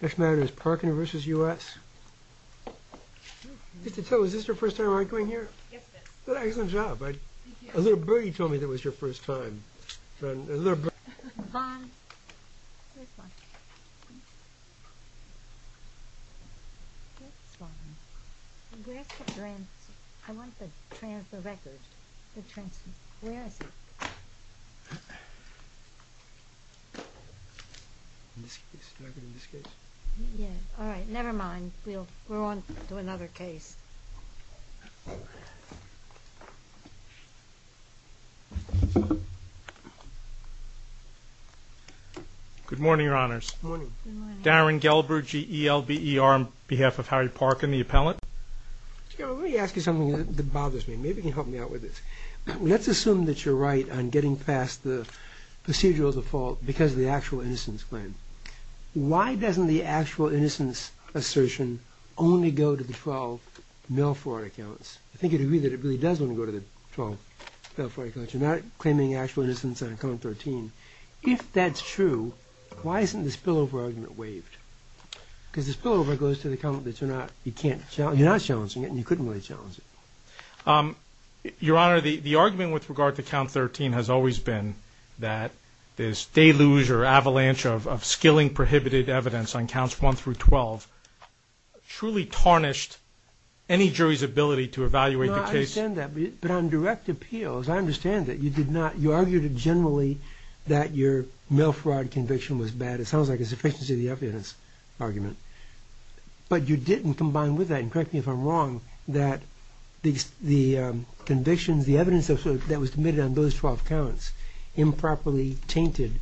Next matter is Parkinv.US Is this your first time coming here? Yes, it is. Excellent job. A little birdie told me it was your first time. Bond. Where's Bond? Where's Bond? Where's the transcript? I want the transcript. Where is it? All right, never mind. We're on to another case. Good morning, Your Honors. Good morning. Darren Gelber, G-E-L-B-E-R, on behalf of Harry Parkin, the appellant. Let me ask you something that bothers me. Maybe you can help me out with this. Let's assume that you're right on getting past the procedural default because of the actual innocence claim. Why doesn't the actual innocence assertion only go to the 12 mail fraud accounts? I think you'd agree that it really does only go to the 12 mail fraud accounts. You're not claiming actual innocence on account 13. If that's true, why isn't the spillover argument waived? Because the spillover goes to the count that you're not challenging it, and you couldn't really challenge it. Your Honor, the argument with regard to count 13 has always been that this deluge or avalanche of skilling prohibited evidence on counts 1 through 12 truly tarnished any jury's ability to evaluate the case. No, I understand that. But on direct appeals, I understand that. You argued generally that your mail fraud conviction was bad. It sounds like a sufficiency of the evidence argument. But you didn't combine with that, and correct me if I'm wrong, that the convictions, the evidence that was committed on those 12 counts improperly tainted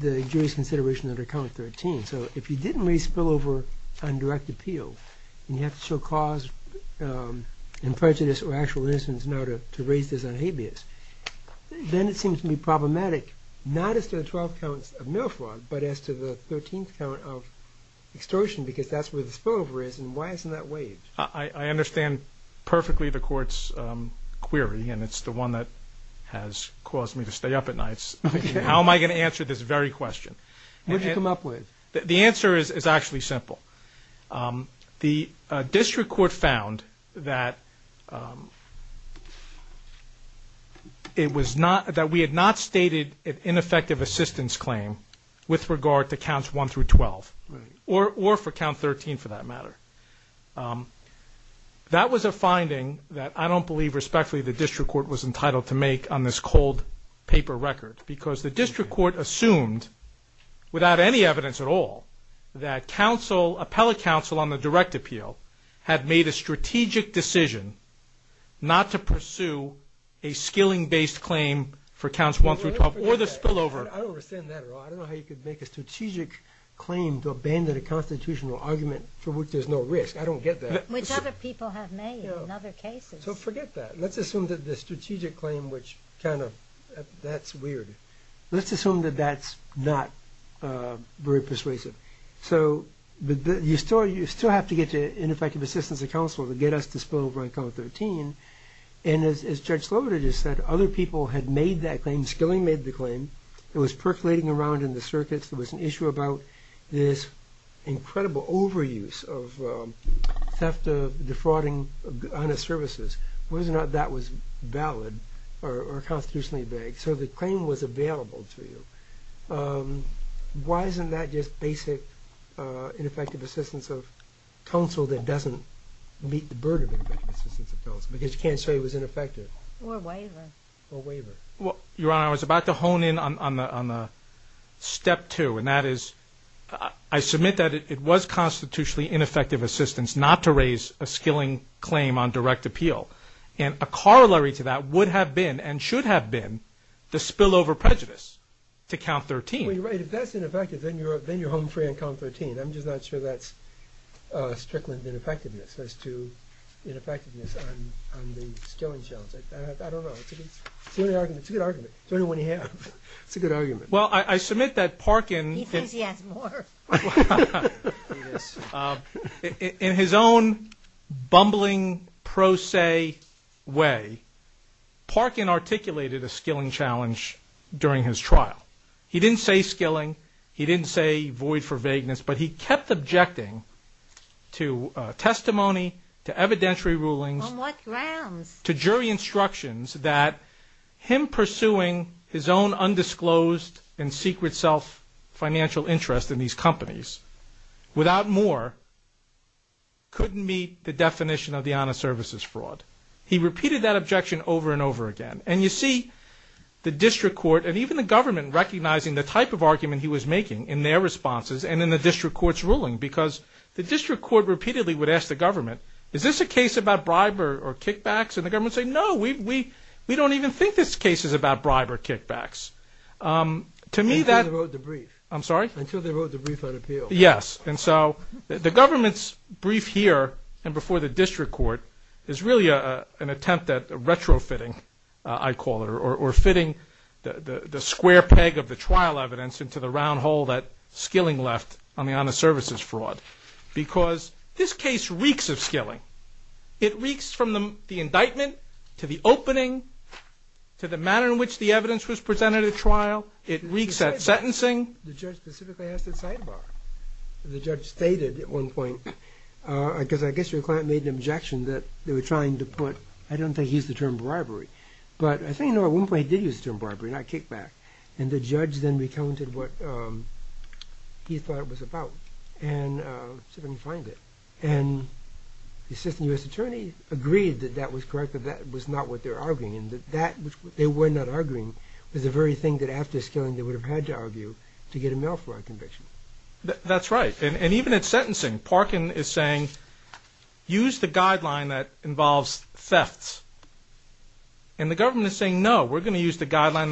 the jury's consideration under count 13. So if you didn't raise spillover on direct appeal, and you have to show cause in prejudice or actual innocence now to raise this on habeas, then it seems to be problematic not as to the 12 counts of mail fraud, but as to the 13th count of extortion because that's where the spillover is, and why isn't that waived? I understand perfectly the Court's query, and it's the one that has caused me to stay up at nights. How am I going to answer this very question? What did you come up with? The answer is actually simple. The district court found that we had not stated an ineffective assistance claim with regard to counts 1 through 12, or for count 13 for that matter. That was a finding that I don't believe respectfully the district court was entitled to make on this cold paper record because the district court assumed without any evidence at all that appellate counsel on the direct appeal had made a strategic decision not to pursue a skilling-based claim for counts 1 through 12 or the spillover. I don't understand that at all. I don't know how you could make a strategic claim to abandon a constitutional argument for which there's no risk. I don't get that. Which other people have made in other cases. So forget that. Let's assume that the strategic claim, which kind of, that's weird. Let's assume that that's not very persuasive. So you still have to get to ineffective assistance of counsel to get us to spill over on count 13, and as Judge Sloder just said, other people had made that claim. When skilling made the claim, it was percolating around in the circuits. There was an issue about this incredible overuse of theft of defrauding of honest services. Whether or not that was valid or constitutionally vague. So the claim was available to you. Why isn't that just basic ineffective assistance of counsel that doesn't meet the burden of ineffective assistance of counsel because you can't say it was ineffective. Or waiver. Your Honor, I was about to hone in on the step two, and that is I submit that it was constitutionally ineffective assistance not to raise a skilling claim on direct appeal. And a corollary to that would have been and should have been the spillover prejudice to count 13. Well, you're right. If that's ineffective, then you're home free on count 13. I'm just not sure that's Strickland ineffectiveness as to ineffectiveness on the skilling shelves. I don't know. It's a good argument. It's a good argument. It's the only one you have. It's a good argument. Well, I submit that Parkin. He thinks he has more. In his own bumbling pro se way, Parkin articulated a skilling challenge during his trial. He didn't say skilling. He didn't say void for vagueness, but he kept objecting to testimony, to evidentiary rulings. On what grounds? To jury instructions that him pursuing his own undisclosed and secret self financial interest in these companies without more couldn't meet the definition of the honest services fraud. He repeated that objection over and over again. And you see the district court and even the government recognizing the type of argument he was making in their responses and in the district court's ruling because the district court repeatedly would ask the government, is this a case about bribe or kickbacks? And the government would say, no, we don't even think this case is about bribe or kickbacks. Until they wrote the brief. I'm sorry? Until they wrote the brief on appeal. Yes. And so the government's brief here and before the district court is really an attempt at retrofitting, I call it, or fitting the square peg of the trial evidence into the round hole that skilling left on the honest services fraud because this case reeks of skilling. It reeks from the indictment to the opening to the manner in which the evidence was presented at trial. It reeks at sentencing. The judge specifically asked at sidebar. The judge stated at one point, because I guess your client made an objection that they were trying to put, I don't think he used the term bribery, but I think at one point he did use the term bribery, not kickback. And the judge then recounted what he thought it was about. And said, let me find it. And the assistant U.S. attorney agreed that that was correct, that that was not what they were arguing. And that they were not arguing was the very thing that after skilling they would have had to argue to get a mail fraud conviction. That's right. And even at sentencing, Parkin is saying, use the guideline that involves thefts. And the government is saying, no, we're going to use the guideline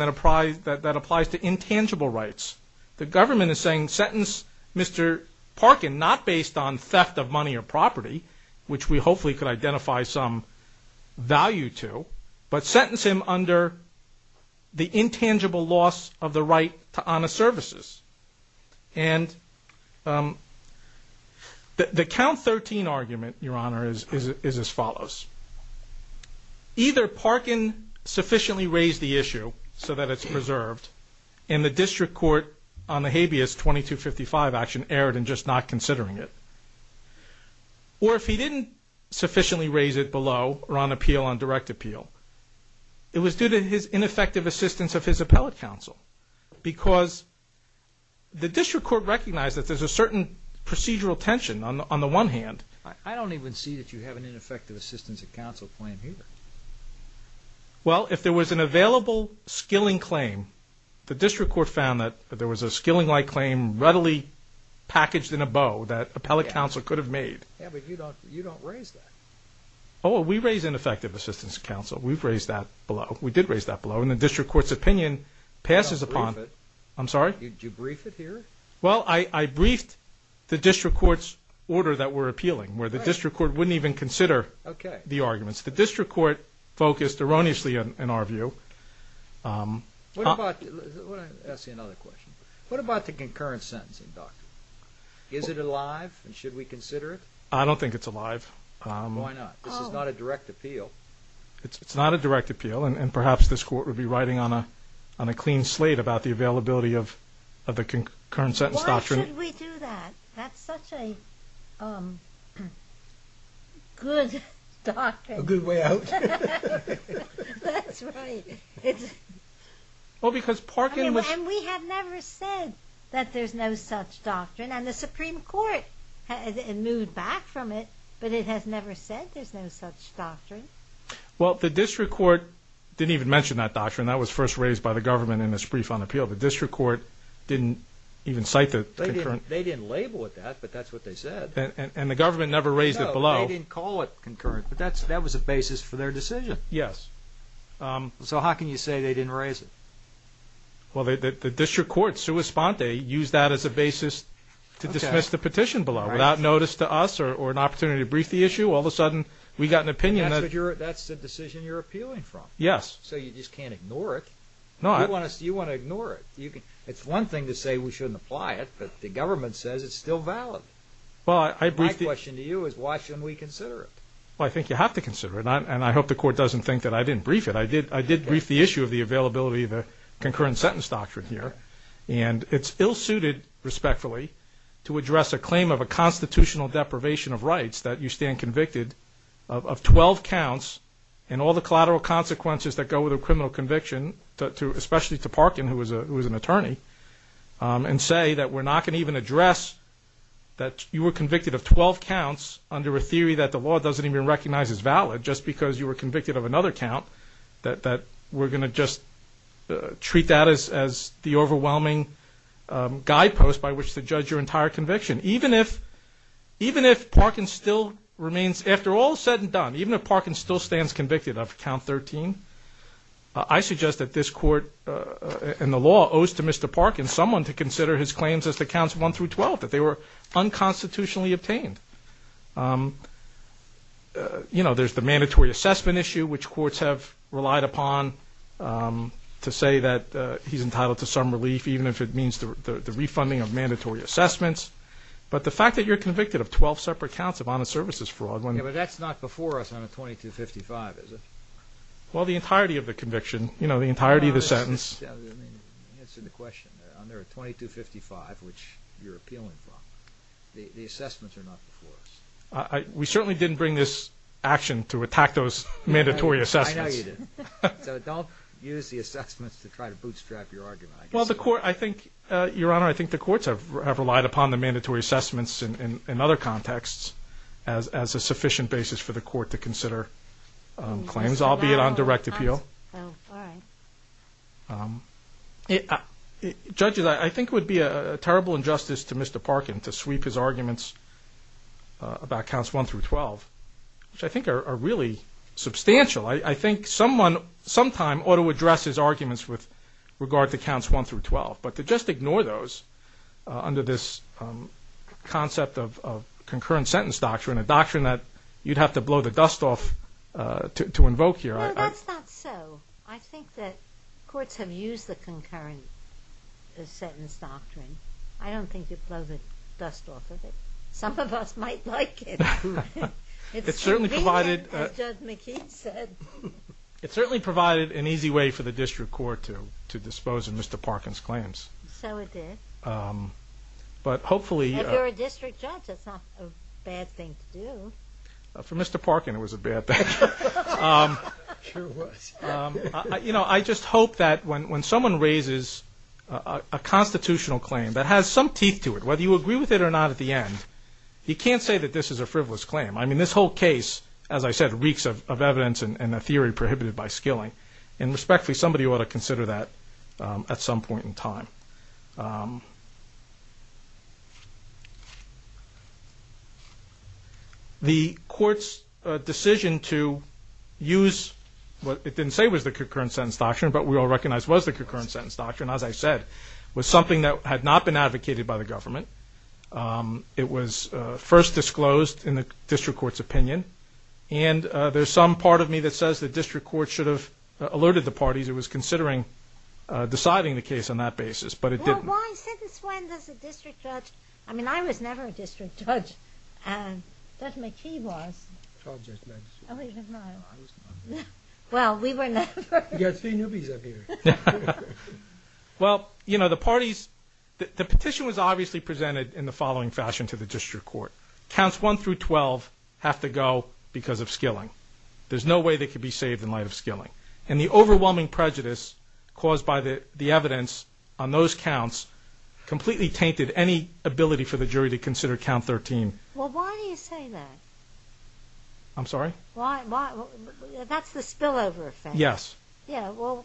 that applies to intangible rights. The government is saying, sentence Mr. Parkin, not based on theft of money or property, which we hopefully could identify some value to, but sentence him under the intangible loss of the right to honest services. And the count 13 argument, Your Honor, is as follows. Either Parkin sufficiently raised the issue so that it's preserved, and the district court on the habeas 2255 action erred in just not considering it. Or if he didn't sufficiently raise it below or on appeal, on direct appeal, it was due to his ineffective assistance of his appellate counsel. Because the district court recognized that there's a certain procedural tension on the one hand. I don't even see that you have an ineffective assistance of counsel plan here. Well, if there was an available skilling claim, the district court found that there was a skilling-like claim readily packaged in a bow that appellate counsel could have made. Yeah, but you don't raise that. Oh, we raise ineffective assistance of counsel. We've raised that below. We did raise that below. And the district court's opinion passes upon. Did you brief it? I'm sorry? Did you brief it here? Well, I briefed the district court's order that we're appealing, where the district court wouldn't even consider the arguments. The district court focused erroneously in our view. Let me ask you another question. What about the concurrent sentencing doctrine? Is it alive, and should we consider it? I don't think it's alive. Why not? This is not a direct appeal. It's not a direct appeal, and perhaps this court would be writing on a clean slate about the availability of the concurrent sentence doctrine. Why should we do that? That's such a good doctrine. A good way out. That's right. Well, because Parkin was And we have never said that there's no such doctrine, and the Supreme Court moved back from it, but it has never said there's no such doctrine. Well, the district court didn't even mention that doctrine. That was first raised by the government in its brief on appeal. The district court didn't even cite the concurrent They didn't label it that, but that's what they said. And the government never raised it below. No, they didn't call it concurrent, but that was a basis for their decision. Yes. So how can you say they didn't raise it? Well, the district court, sua sponte, used that as a basis to dismiss the petition below, without notice to us or an opportunity to brief the issue. All of a sudden, we got an opinion that That's the decision you're appealing from. Yes. So you just can't ignore it. You want to ignore it. It's one thing to say we shouldn't apply it, but the government says it's still valid. My question to you is why shouldn't we consider it? Well, I think you have to consider it, and I hope the court doesn't think that I didn't brief it. I did brief the issue of the availability of the concurrent sentence doctrine here, and it's ill-suited, respectfully, to address a claim of a constitutional deprivation of rights that you stand convicted of 12 counts and all the collateral consequences that go with a criminal conviction, especially to Parkin, who was an attorney, and say that we're not going to even address that you were convicted of 12 counts under a theory that the law doesn't even recognize is valid just because you were convicted of another count, that we're going to just treat that as the overwhelming guidepost by which to judge your entire conviction. Even if Parkin still remains, after all is said and done, even if Parkin still stands convicted of count 13, I suggest that this court and the law owes to Mr. Parkin, someone to consider his claims as the counts 1 through 12, that they were unconstitutionally obtained. You know, there's the mandatory assessment issue, which courts have relied upon to say that he's entitled to some relief, even if it means the refunding of mandatory assessments. But the fact that you're convicted of 12 separate counts of honest services fraud when... Yeah, but that's not before us on a 2255, is it? Well, the entirety of the conviction, you know, the entirety of the sentence. Answer the question. Under a 2255, which you're appealing from, the assessments are not before us. We certainly didn't bring this action to attack those mandatory assessments. I know you didn't. So don't use the assessments to try to bootstrap your argument. Well, the court, I think, Your Honor, I think the courts have relied upon the mandatory assessments in other contexts as a sufficient basis for the court to consider claims, albeit on direct appeal. Oh, all right. Judges, I think it would be a terrible injustice to Mr. Parkin to sweep his arguments about counts 1 through 12, which I think are really substantial. I think someone sometime ought to address his arguments with regard to counts 1 through 12, but to just ignore those under this concept of concurrent sentence doctrine, a doctrine that you'd have to blow the dust off to invoke here. No, that's not so. I think that courts have used the concurrent sentence doctrine. I don't think you'd blow the dust off of it. Some of us might like it. It's convenient, as Judge McKee said. It certainly provided an easy way for the district court to dispose of Mr. Parkin's claims. So it did. If you're a district judge, that's not a bad thing to do. For Mr. Parkin, it was a bad thing. It sure was. I just hope that when someone raises a constitutional claim that has some teeth to it, whether you agree with it or not at the end, you can't say that this is a frivolous claim. I mean, this whole case, as I said, reeks of evidence and a theory prohibited by skilling, and respectfully, somebody ought to consider that at some point in time. The court's decision to use what it didn't say was the concurrent sentence doctrine, but we all recognize was the concurrent sentence doctrine, as I said, was something that had not been advocated by the government. It was first disclosed in the district court's opinion, and there's some part of me that says the district court should have alerted the parties it was considering deciding the case on that basis, but it didn't. Well, why sentence when there's a district judge? I mean, I was never a district judge. Judge McKee was. I was not. Well, we were never. You've got three newbies up here. Well, the parties, the petition was obviously presented in the following fashion to the district court. Counts 1 through 12 have to go because of skilling. There's no way they could be saved in light of skilling, and the overwhelming prejudice caused by the evidence on those counts completely tainted any ability for the jury to consider count 13. Well, why do you say that? I'm sorry? That's the spillover effect. Yes. Yeah, well,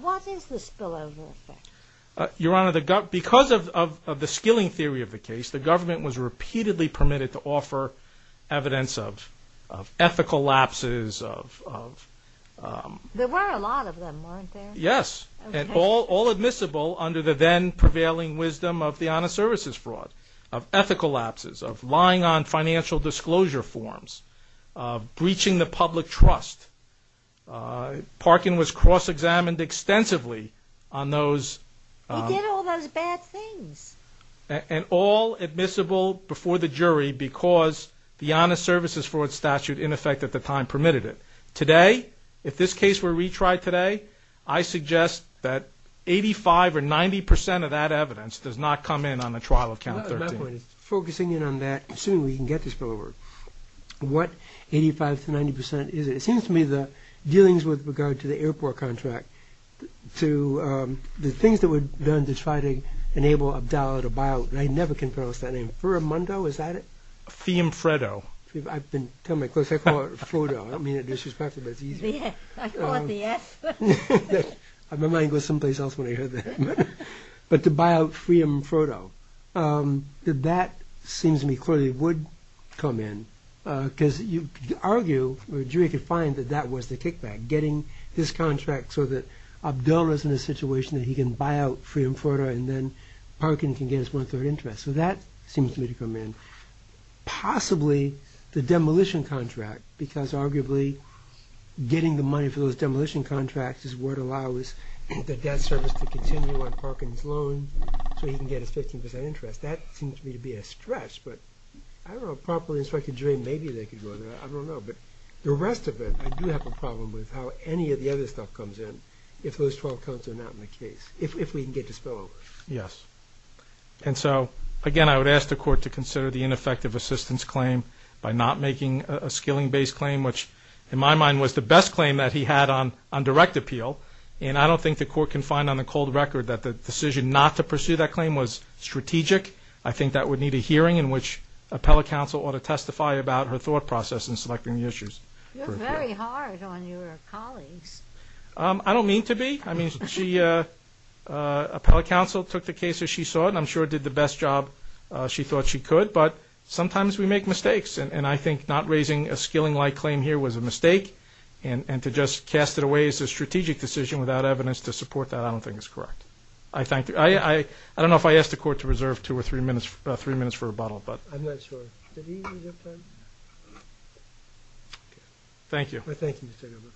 what is the spillover effect? Your Honor, because of the skilling theory of the case, the government was repeatedly permitted to offer evidence of ethical lapses of... There were a lot of them, weren't there? Yes, and all admissible under the then-prevailing wisdom of the honest services fraud, of ethical lapses, of lying on financial disclosure forms, of breaching the public trust, parking was cross-examined extensively on those... He did all those bad things. And all admissible before the jury because the honest services fraud statute in effect at the time permitted it. Today, if this case were retried today, I suggest that 85 or 90 percent of that evidence does not come in on the trial of count 13. My point is, focusing in on that, assuming we can get this spillover, what 85 to 90 percent is it? It seems to me the dealings with regard to the airport contract, to the things that were done to try to enable Abdallah to buy out... I never can pronounce that name. Firmundo, is that it? Fiamfreddo. I've been telling my close... I call it Frodo. I don't mean it disrespectfully, but it's easier. I call it the F. My mind goes someplace else when I hear that. But to buy out Fiamfreddo, that seems to me clearly would come in. Because you could argue, or a jury could find, that that was the kickback, getting his contract so that Abdallah is in a situation that he can buy out Fiamfreddo and then Parkin can get his one-third interest. So that seems to me to come in. Possibly the demolition contract, because arguably getting the money for those demolition contracts is what allows the debt service to continue on Parkin's loan so he can get his 15 percent interest. That seems to me to be a stretch. But I don't know, a properly instructed jury, maybe they could go there. I don't know. But the rest of it, I do have a problem with how any of the other stuff comes in if those 12 counts are not in the case, if we can get this bill over. Yes. And so, again, I would ask the Court to consider the ineffective assistance claim by not making a skilling-based claim, which in my mind was the best claim that he had on direct appeal. And I don't think the Court can find on the cold record that the decision not to pursue that claim was strategic. I think that would need a hearing in which appellate counsel ought to testify about her thought process in selecting the issues. You're very hard on your colleagues. I don't mean to be. I mean, appellate counsel took the case as she saw it, and I'm sure did the best job she thought she could. But sometimes we make mistakes, and I think not raising a skilling-like claim here was a mistake, and to just cast it away as a strategic decision without evidence to support that I don't think is correct. I don't know if I asked the Court to reserve two or three minutes for rebuttal. I'm not sure. Thank you. Thank you, Mr. Gover.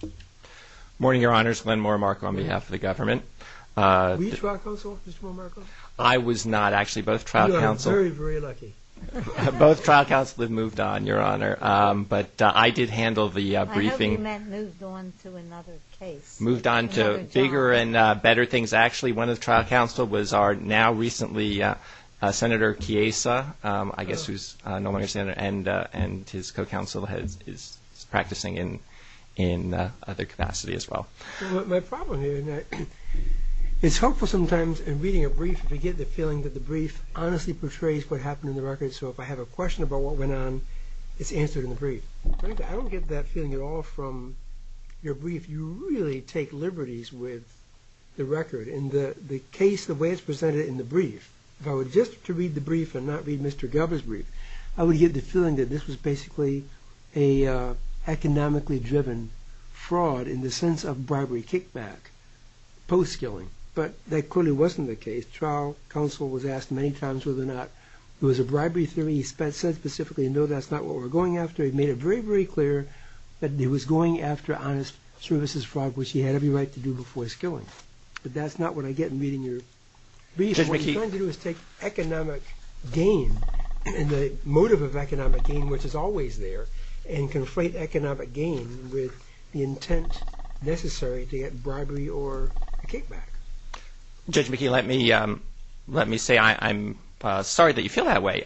Good morning, Your Honors. on behalf of the government. Were you trial counsel, Mr. Moore-Marco? I was not, actually. Both trial counsel. You are very, very lucky. Both trial counsel have moved on, Your Honor. But I did handle the briefing. I hope you meant moved on to another case. Moved on to bigger and better things. Actually, one of the trial counsel was our now-recently Senator Chiesa, I guess, and his co-counsel is practicing in other capacity as well. My problem here is it's helpful sometimes in reading a brief if you get the feeling that the brief honestly portrays what happened in the record, so if I have a question about what went on, it's answered in the brief. I don't get that feeling at all from your brief. You really take liberties with the record. In the case, the way it's presented in the brief, if I were just to read the brief and not read Mr. Galbraith's brief, I would get the feeling that this was basically an economically-driven fraud in the sense of bribery kickback post-skilling, but that clearly wasn't the case. Trial counsel was asked many times whether or not there was a bribery theory. He said specifically, no, that's not what we're going after. He made it very, very clear that he was going after honest services fraud, which he had every right to do before skilling. But that's not what I get in reading your brief. What you're trying to do is take economic gain and the motive of economic gain, which is always there, and conflate economic gain with the intent necessary to get bribery or kickback. Judge McKee, let me say I'm sorry that you feel that way.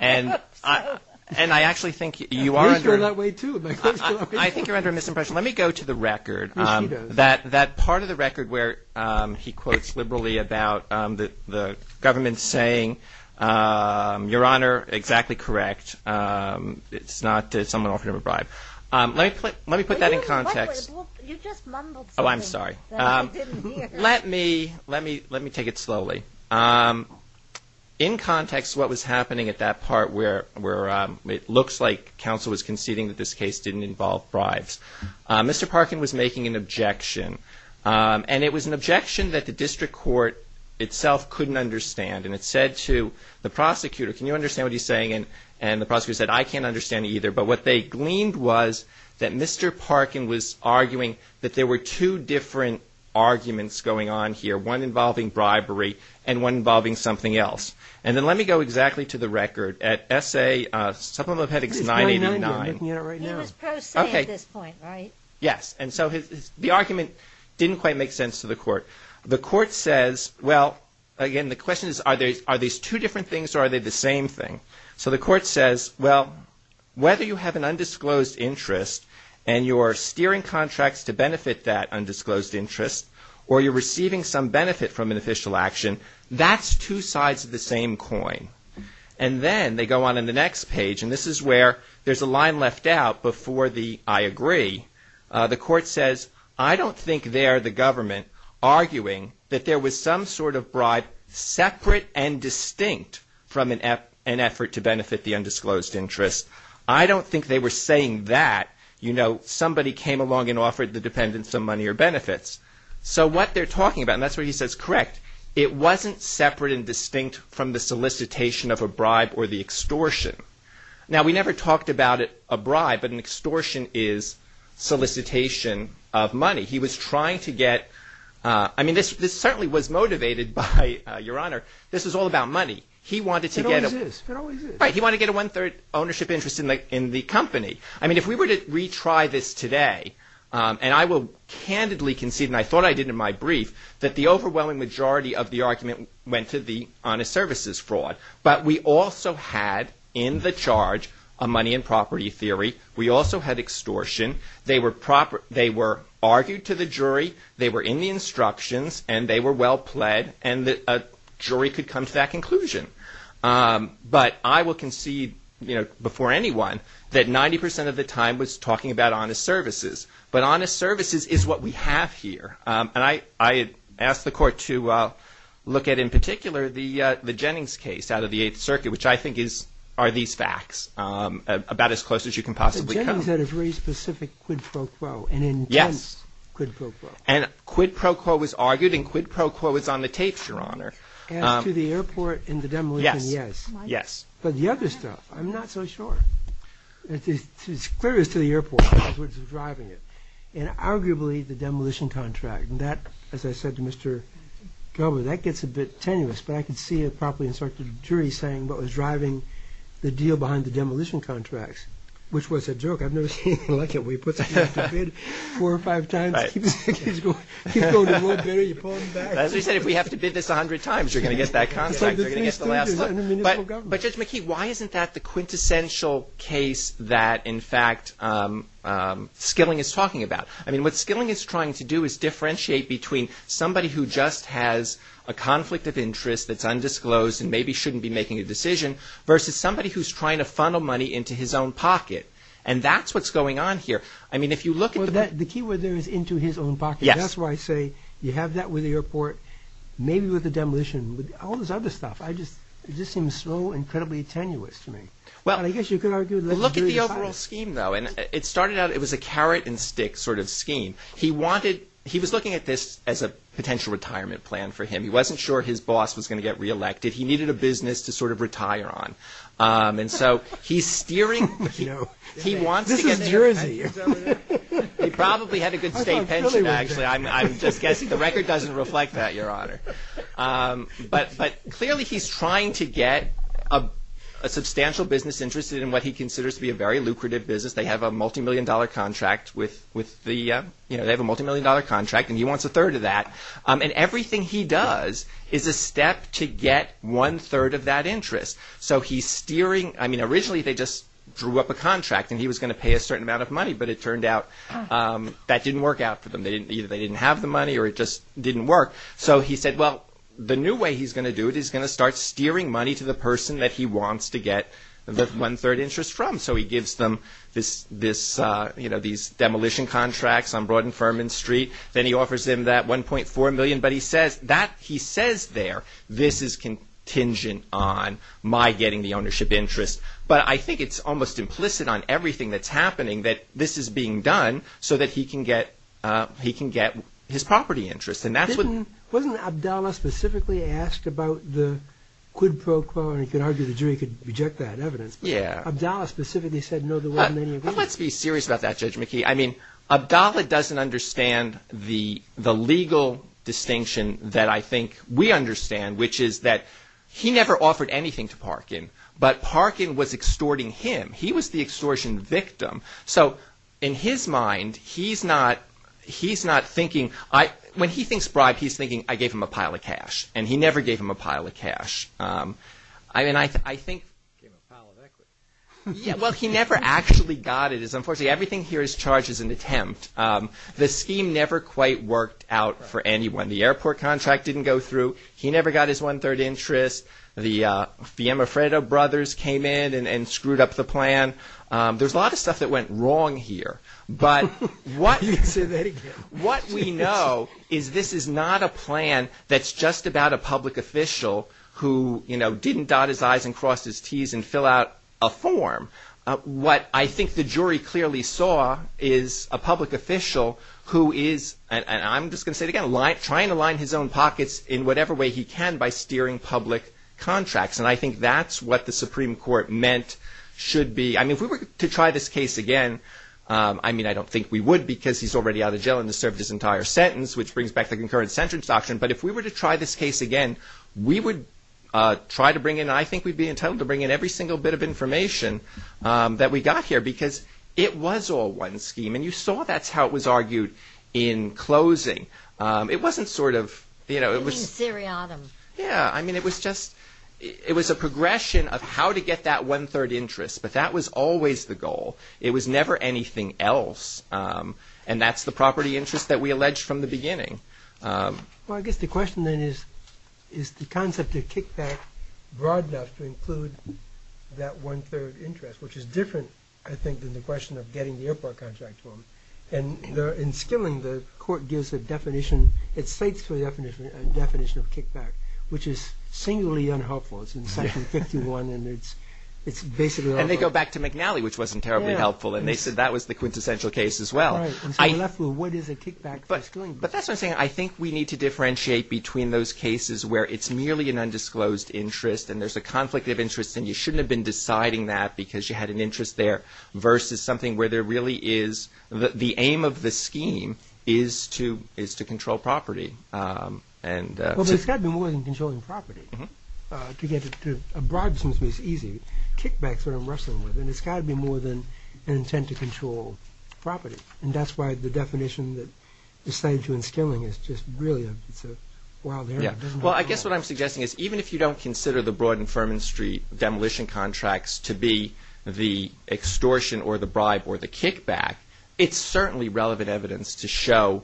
And I actually think you are— You feel that way, too. I think you're under a misimpression. Let me go to the record. Yes, he does. That part of the record where he quotes liberally about the government saying, Your Honor, exactly correct. It's not that someone offered him a bribe. Let me put that in context. You just mumbled something that I didn't hear. Let me take it slowly. In context, what was happening at that part where it looks like counsel was conceding that this case didn't involve bribes, Mr. Parkin was making an objection. And it was an objection that the district court itself couldn't understand. And it said to the prosecutor, Can you understand what he's saying? And the prosecutor said, I can't understand it either. But what they gleaned was that Mr. Parkin was arguing that there were two different arguments going on here, one involving bribery and one involving something else. And then let me go exactly to the record. At S.A. Supplemental Headings 989— This is 990. I'm looking at it right now. He was pro se at this point, right? Yes. And so the argument didn't quite make sense to the court. The court says, well, again, the question is are these two different things or are they the same thing? So the court says, well, whether you have an undisclosed interest and you're steering contracts to benefit that undisclosed interest or you're receiving some benefit from an official action, that's two sides of the same coin. And then they go on in the next page, and this is where there's a line left out before the I agree. The court says, I don't think they're the government arguing that there was some sort of bribe separate and distinct from an effort to benefit the undisclosed interest. I don't think they were saying that, you know, somebody came along and offered the dependents some money or benefits. So what they're talking about, and that's where he says, correct, it wasn't separate and distinct from the solicitation of a bribe or the extortion. Now, we never talked about a bribe, but an extortion is solicitation of money. He was trying to get, I mean, this certainly was motivated by, Your Honor, this was all about money. He wanted to get a one-third ownership interest in the company. I mean, if we were to retry this today, and I will candidly concede, and I thought I did in my brief, that the overwhelming majority of the argument went to the honest services fraud. But we also had in the charge a money and property theory. We also had extortion. They were argued to the jury. They were in the instructions, and they were well pled, and a jury could come to that conclusion. But I will concede, you know, before anyone, that 90 percent of the time was talking about honest services. But honest services is what we have here. And I ask the Court to look at, in particular, the Jennings case out of the Eighth Circuit, which I think are these facts about as close as you can possibly come. But Jennings had a very specific quid pro quo, an intense quid pro quo. And quid pro quo was argued, and quid pro quo was on the tapes, Your Honor. And to the airport in the demolition, yes. But the other stuff, I'm not so sure. It's clear it was to the airport that was driving it. And arguably, the demolition contract. And that, as I said to Mr. Kelber, that gets a bit tenuous. But I could see a properly instructed jury saying what was driving the deal behind the demolition contracts, which was a joke. I've never seen anything like it. We put something up to bid four or five times. It keeps going. It keeps going. The more bidder, you pull it back. As we said, if we have to bid this 100 times, you're going to get that contract. You're going to get the last look. But Judge McKee, why isn't that the quintessential case that, in fact, Skilling is talking about? I mean, what Skilling is trying to do is differentiate between somebody who just has a conflict of interest that's undisclosed and maybe shouldn't be making a decision versus somebody who's trying to funnel money into his own pocket. And that's what's going on here. I mean, if you look at the – Well, the key word there is into his own pocket. That's why I say you have that with the airport, maybe with the demolition, with all this other stuff. It just seems so incredibly tenuous to me. Well, look at the overall scheme, though. And it started out – it was a carrot and stick sort of scheme. He wanted – he was looking at this as a potential retirement plan for him. He wasn't sure his boss was going to get reelected. He needed a business to sort of retire on. And so he's steering – he wants to get – This is Jersey. He probably had a good state pension, actually. I'm just guessing. The record doesn't reflect that, Your Honor. But clearly, he's trying to get a substantial business interested in what he considers to be a very lucrative business. They have a multimillion-dollar contract with the – they have a multimillion-dollar contract, and he wants a third of that. And everything he does is a step to get one-third of that interest. So he's steering – I mean, originally, they just drew up a contract, and he was going to pay a certain amount of money. But it turned out that didn't work out for them. Either they didn't have the money or it just didn't work. So he said, well, the new way he's going to do it is he's going to start steering money to the person that he wants to get the one-third interest from. So he gives them these demolition contracts on Broad and Furman Street. Then he offers them that $1.4 million. But he says there, this is contingent on my getting the ownership interest. But I think it's almost implicit on everything that's happening that this is being done so that he can get his property interest. And that's what – Wasn't Abdallah specifically asked about the quid pro quo? And he could argue the jury could reject that evidence. Yeah. Abdallah specifically said, no, there wasn't any agreement. Let's be serious about that, Judge McKee. I mean, Abdallah doesn't understand the legal distinction that I think we understand, which is that he never offered anything to Parkin. But Parkin was extorting him. He was the extortion victim. So in his mind, he's not thinking – when he thinks bribe, he's thinking, I gave him a pile of cash. And he never gave him a pile of cash. I mean, I think – Gave him a pile of equity. Yeah, well, he never actually got it. Unfortunately, everything here is charged as an attempt. The scheme never quite worked out for anyone. The airport contract didn't go through. He never got his one-third interest. The Amafreto brothers came in and screwed up the plan. There's a lot of stuff that went wrong here. But what we know is this is not a plan that's just about a public official who, you know, didn't dot his I's and cross his T's and fill out a form. What I think the jury clearly saw is a public official who is – and I'm just going to say it again – trying to line his own pockets in whatever way he can by steering public contracts. And I think that's what the Supreme Court meant should be – I mean, if we were to try this case again – I mean, I don't think we would because he's already out of jail and has served his entire sentence, which brings back the concurrent sentence doctrine. But if we were to try this case again, we would try to bring in – I think we'd be entitled to bring in every single bit of information that we got here because it was all one scheme. And you saw that's how it was argued in closing. It wasn't sort of – you know, it was – You mean seriatim. Yeah. I mean, it was just – it was a progression of how to get that one-third interest. But that was always the goal. It was never anything else. And that's the property interest that we alleged from the beginning. Well, I guess the question then is, is the concept of kickback broad enough to include that one-third interest, which is different, I think, than the question of getting the airport contract form. And in Skilling, the court gives a definition – it cites a definition of kickback, which is singularly unhelpful. It's in section 51, and it's basically – And they go back to McNally, which wasn't terribly helpful, and they said that was the quintessential case as well. Right. And so we're left with what is a kickback for Skilling. But that's what I'm saying. I think we need to differentiate between those cases where it's merely an undisclosed interest and there's a conflict of interest and you shouldn't have been deciding that because you had an interest there, versus something where there really is – the aim of the scheme is to control property. Well, but it's got to be more than controlling property. To get a bribe seems to be easy. Kickback is what I'm wrestling with. And it's got to be more than an intent to control property. And that's why the definition that is cited in Skilling is just really – it's a wild area. Well, I guess what I'm suggesting is, even if you don't consider the Broad and Furman Street demolition contracts to be the extortion or the bribe or the kickback, it's certainly relevant evidence to show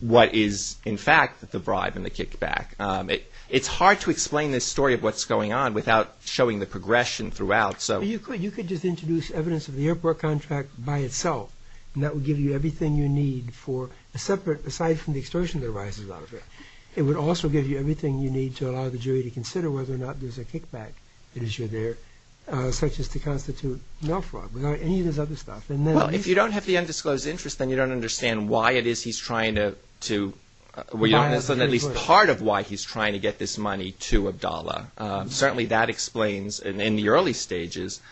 what is in fact the bribe and the kickback. It's hard to explain this story of what's going on without showing the progression throughout. You could just introduce evidence of the airport contract by itself, and that would give you everything you need for a separate – aside from the extortion that arises out of it. It would also give you everything you need to allow the jury to consider whether or not there's a kickback issue there, such as to constitute no fraud, without any of this other stuff. Well, if you don't have the undisclosed interest, then you don't understand why it is he's trying to – at least part of why he's trying to get this money to Abdallah. Certainly that explains, in the early stages,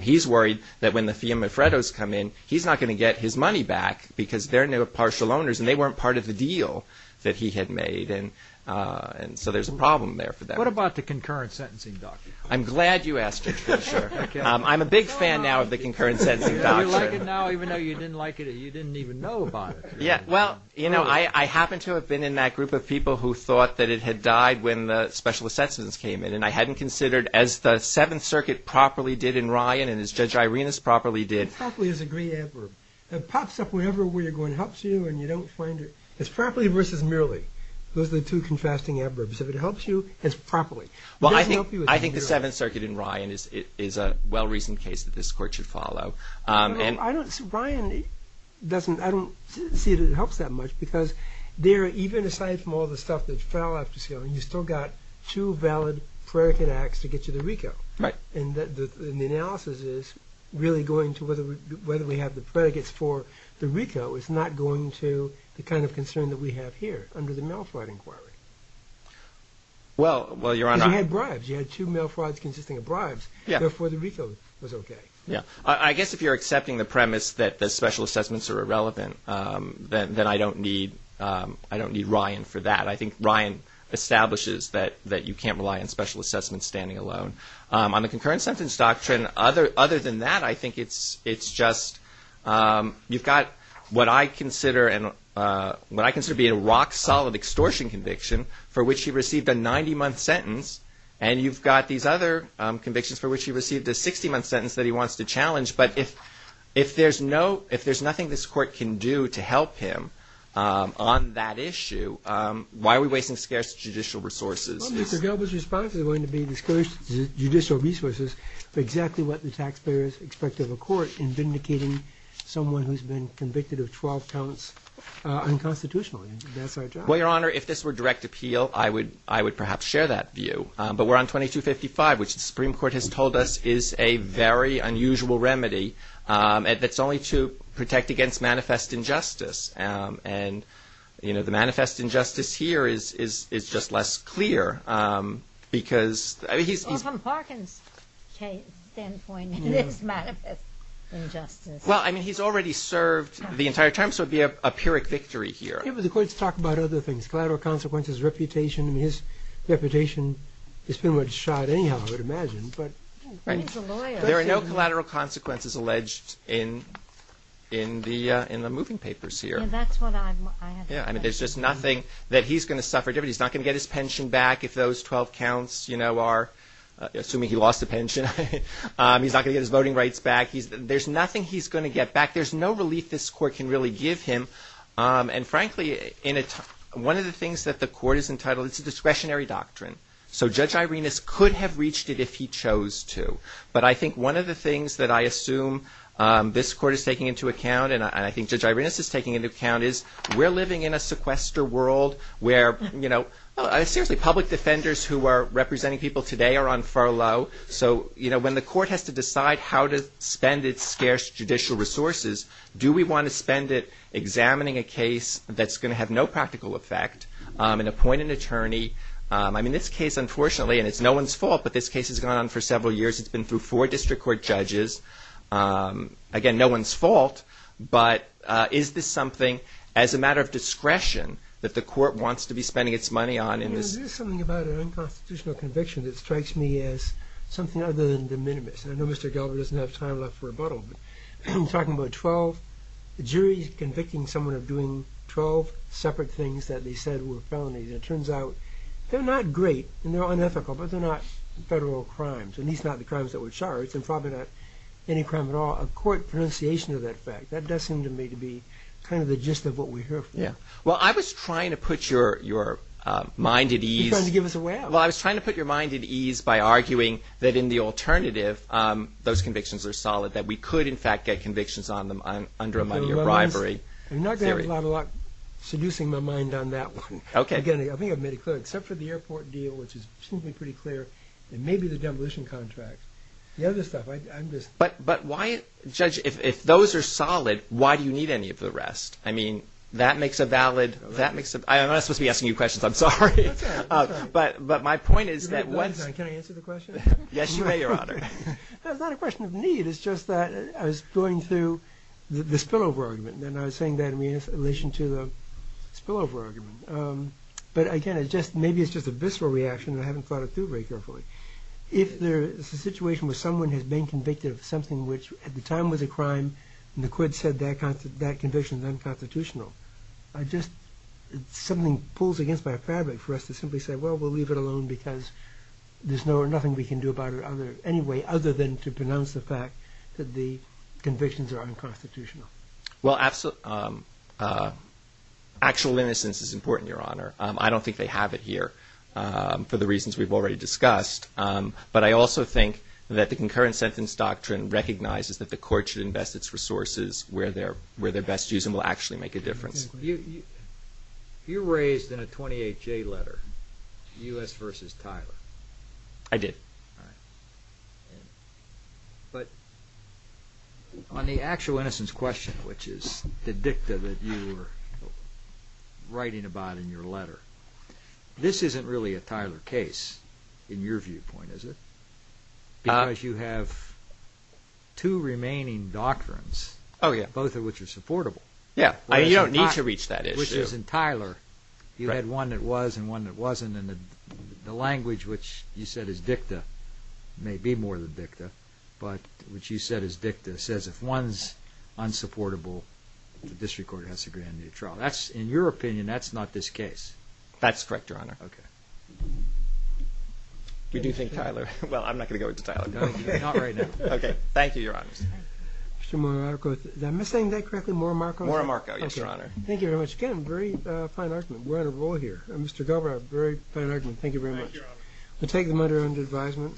he's worried that when the Fiamma-Freddos come in, he's not going to get his money back because they're now partial owners, and they weren't part of the deal that he had made, and so there's a problem there for them. What about the concurrent sentencing doctrine? I'm glad you asked it, Richard. I'm a big fan now of the concurrent sentencing doctrine. You like it now, even though you didn't like it or you didn't even know about it? Yeah, well, you know, I happen to have been in that group of people who thought that it had died when the special assessments came in, and I hadn't considered, as the Seventh Circuit properly did in Ryan and as Judge Irenas properly did – It pops up wherever you're going. It helps you and you don't find it. It's properly versus merely. Those are the two contrasting adverbs. If it helps you, it's properly. Well, I think the Seventh Circuit in Ryan is a well-reasoned case that this Court should follow. No, no, I don't – Ryan doesn't – I don't see that it helps that much because there, even aside from all the stuff that fell off the scale, you've still got two valid prerogative acts to get you to RICO. Right. And the analysis is really going to whether we have the predicates for the RICO is not going to the kind of concern that we have here under the mail fraud inquiry. Well, Your Honor – Because you had bribes. You had two mail frauds consisting of bribes. Yeah. Therefore, the RICO was okay. Yeah. I guess if you're accepting the premise that the special assessments are irrelevant, then I don't need Ryan for that. I think Ryan establishes that you can't rely on special assessments standing alone. On the concurrent sentence doctrine, other than that, I think it's just – you've got what I consider being a rock-solid extortion conviction for which he received a 90-month sentence, and you've got these other convictions for which he received a 60-month sentence that he wants to challenge. But if there's nothing this Court can do to help him on that issue, why are we wasting scarce judicial resources? Well, Mr. Gilbert's response is going to be discourage judicial resources for exactly what the taxpayers expect of a court in vindicating someone who's been convicted of 12 counts unconstitutionally. That's our job. Well, Your Honor, if this were direct appeal, I would perhaps share that view. But we're on 2255, which the Supreme Court has told us is a very unusual remedy that's only to protect against manifest injustice. And, you know, the manifest injustice here is just less clear because – Well, from Harkin's standpoint, it is manifest injustice. Well, I mean, he's already served the entire term, so it would be a pyrrhic victory here. Yeah, but the courts talk about other things, collateral consequences, reputation. I mean, his reputation is pretty much shot anyhow, I would imagine. He's a lawyer. There are no collateral consequences alleged in the moving papers here. Yeah, that's what I have heard. Yeah, I mean, there's just nothing that he's going to suffer. He's not going to get his pension back if those 12 counts, you know, are – assuming he lost a pension, he's not going to get his voting rights back. There's nothing he's going to get back. There's no relief this court can really give him. And, frankly, one of the things that the court is entitled – it's a discretionary doctrine. So Judge Irenas could have reached it if he chose to. But I think one of the things that I assume this court is taking into account and I think Judge Irenas is taking into account is we're living in a sequester world where, you know – seriously, public defenders who are representing people today are on furlough. So, you know, when the court has to decide how to spend its scarce judicial resources, do we want to spend it examining a case that's going to have no practical effect and appoint an attorney? I mean, this case, unfortunately – and it's no one's fault, but this case has gone on for several years. It's been through four district court judges. Again, no one's fault. But is this something, as a matter of discretion, that the court wants to be spending its money on in this – You know, there's something about an unconstitutional conviction that strikes me as something other than de minimis. I know Mr. Galbraith doesn't have time left for rebuttal, but talking about 12 – the jury's convicting someone of doing 12 separate things that they said were felonies. And it turns out they're not great and they're unethical, but they're not federal crimes. And these are not the crimes that were charged and probably not any crime at all. A court pronunciation of that fact, that does seem to me to be kind of the gist of what we hear from you. Well, I was trying to put your mind at ease. You're trying to give us a wham. Well, I was trying to put your mind at ease by arguing that in the alternative, those convictions are solid, that we could, in fact, get convictions on them under a money or bribery theory. I'm not going to have a lot of luck seducing my mind on that one. Okay. Again, I think I've made it clear, except for the airport deal, which is seemingly pretty clear, and maybe the demolition contract. The other stuff, I'm just – But why – judge, if those are solid, why do you need any of the rest? I mean, that makes a valid – I'm not supposed to be asking you questions. I'm sorry. That's all right. But my point is that once – Wait a second. Can I answer the question? Yes, you may, Your Honor. It's not a question of need. It's just that I was going through the spillover argument, and I was saying that in relation to the spillover argument. But, again, maybe it's just a visceral reaction, and I haven't thought it through very carefully. If there is a situation where someone has been convicted of something which at the time was a crime, and the court said that conviction is unconstitutional, I just – something pulls against my fabric for us to simply say, well, we'll leave it alone because there's nothing we can do about it anyway other than to pronounce the fact that the convictions are unconstitutional. Well, actual innocence is important, Your Honor. I don't think they have it here for the reasons we've already discussed. But I also think that the concurrent sentence doctrine recognizes that the court should invest its resources where they're best used and will actually make a difference. You raised in a 28-J letter U.S. v. Tyler. I did. All right. But on the actual innocence question, which is the dicta that you were writing about in your letter, this isn't really a Tyler case in your viewpoint, is it? Because you have two remaining doctrines, both of which are supportable. Yeah, you don't need to reach that issue. Which is in Tyler, you had one that was and one that wasn't, and the language which you said is dicta may be more than dicta, but which you said is dicta says if one's unsupportable, the district court has to grant a new trial. In your opinion, that's not this case. That's correct, Your Honor. We do think Tyler. Well, I'm not going to go into Tyler. Not right now. Okay. Thank you, Your Honor. Mr. Monarmarco, am I saying that correctly? Monarmarco, yes, Your Honor. Thank you very much again. Very fine argument. We're in a roll here. Mr. Galbraith, very fine argument. Thank you very much. Thank you, Your Honor. We'll take them under advisement.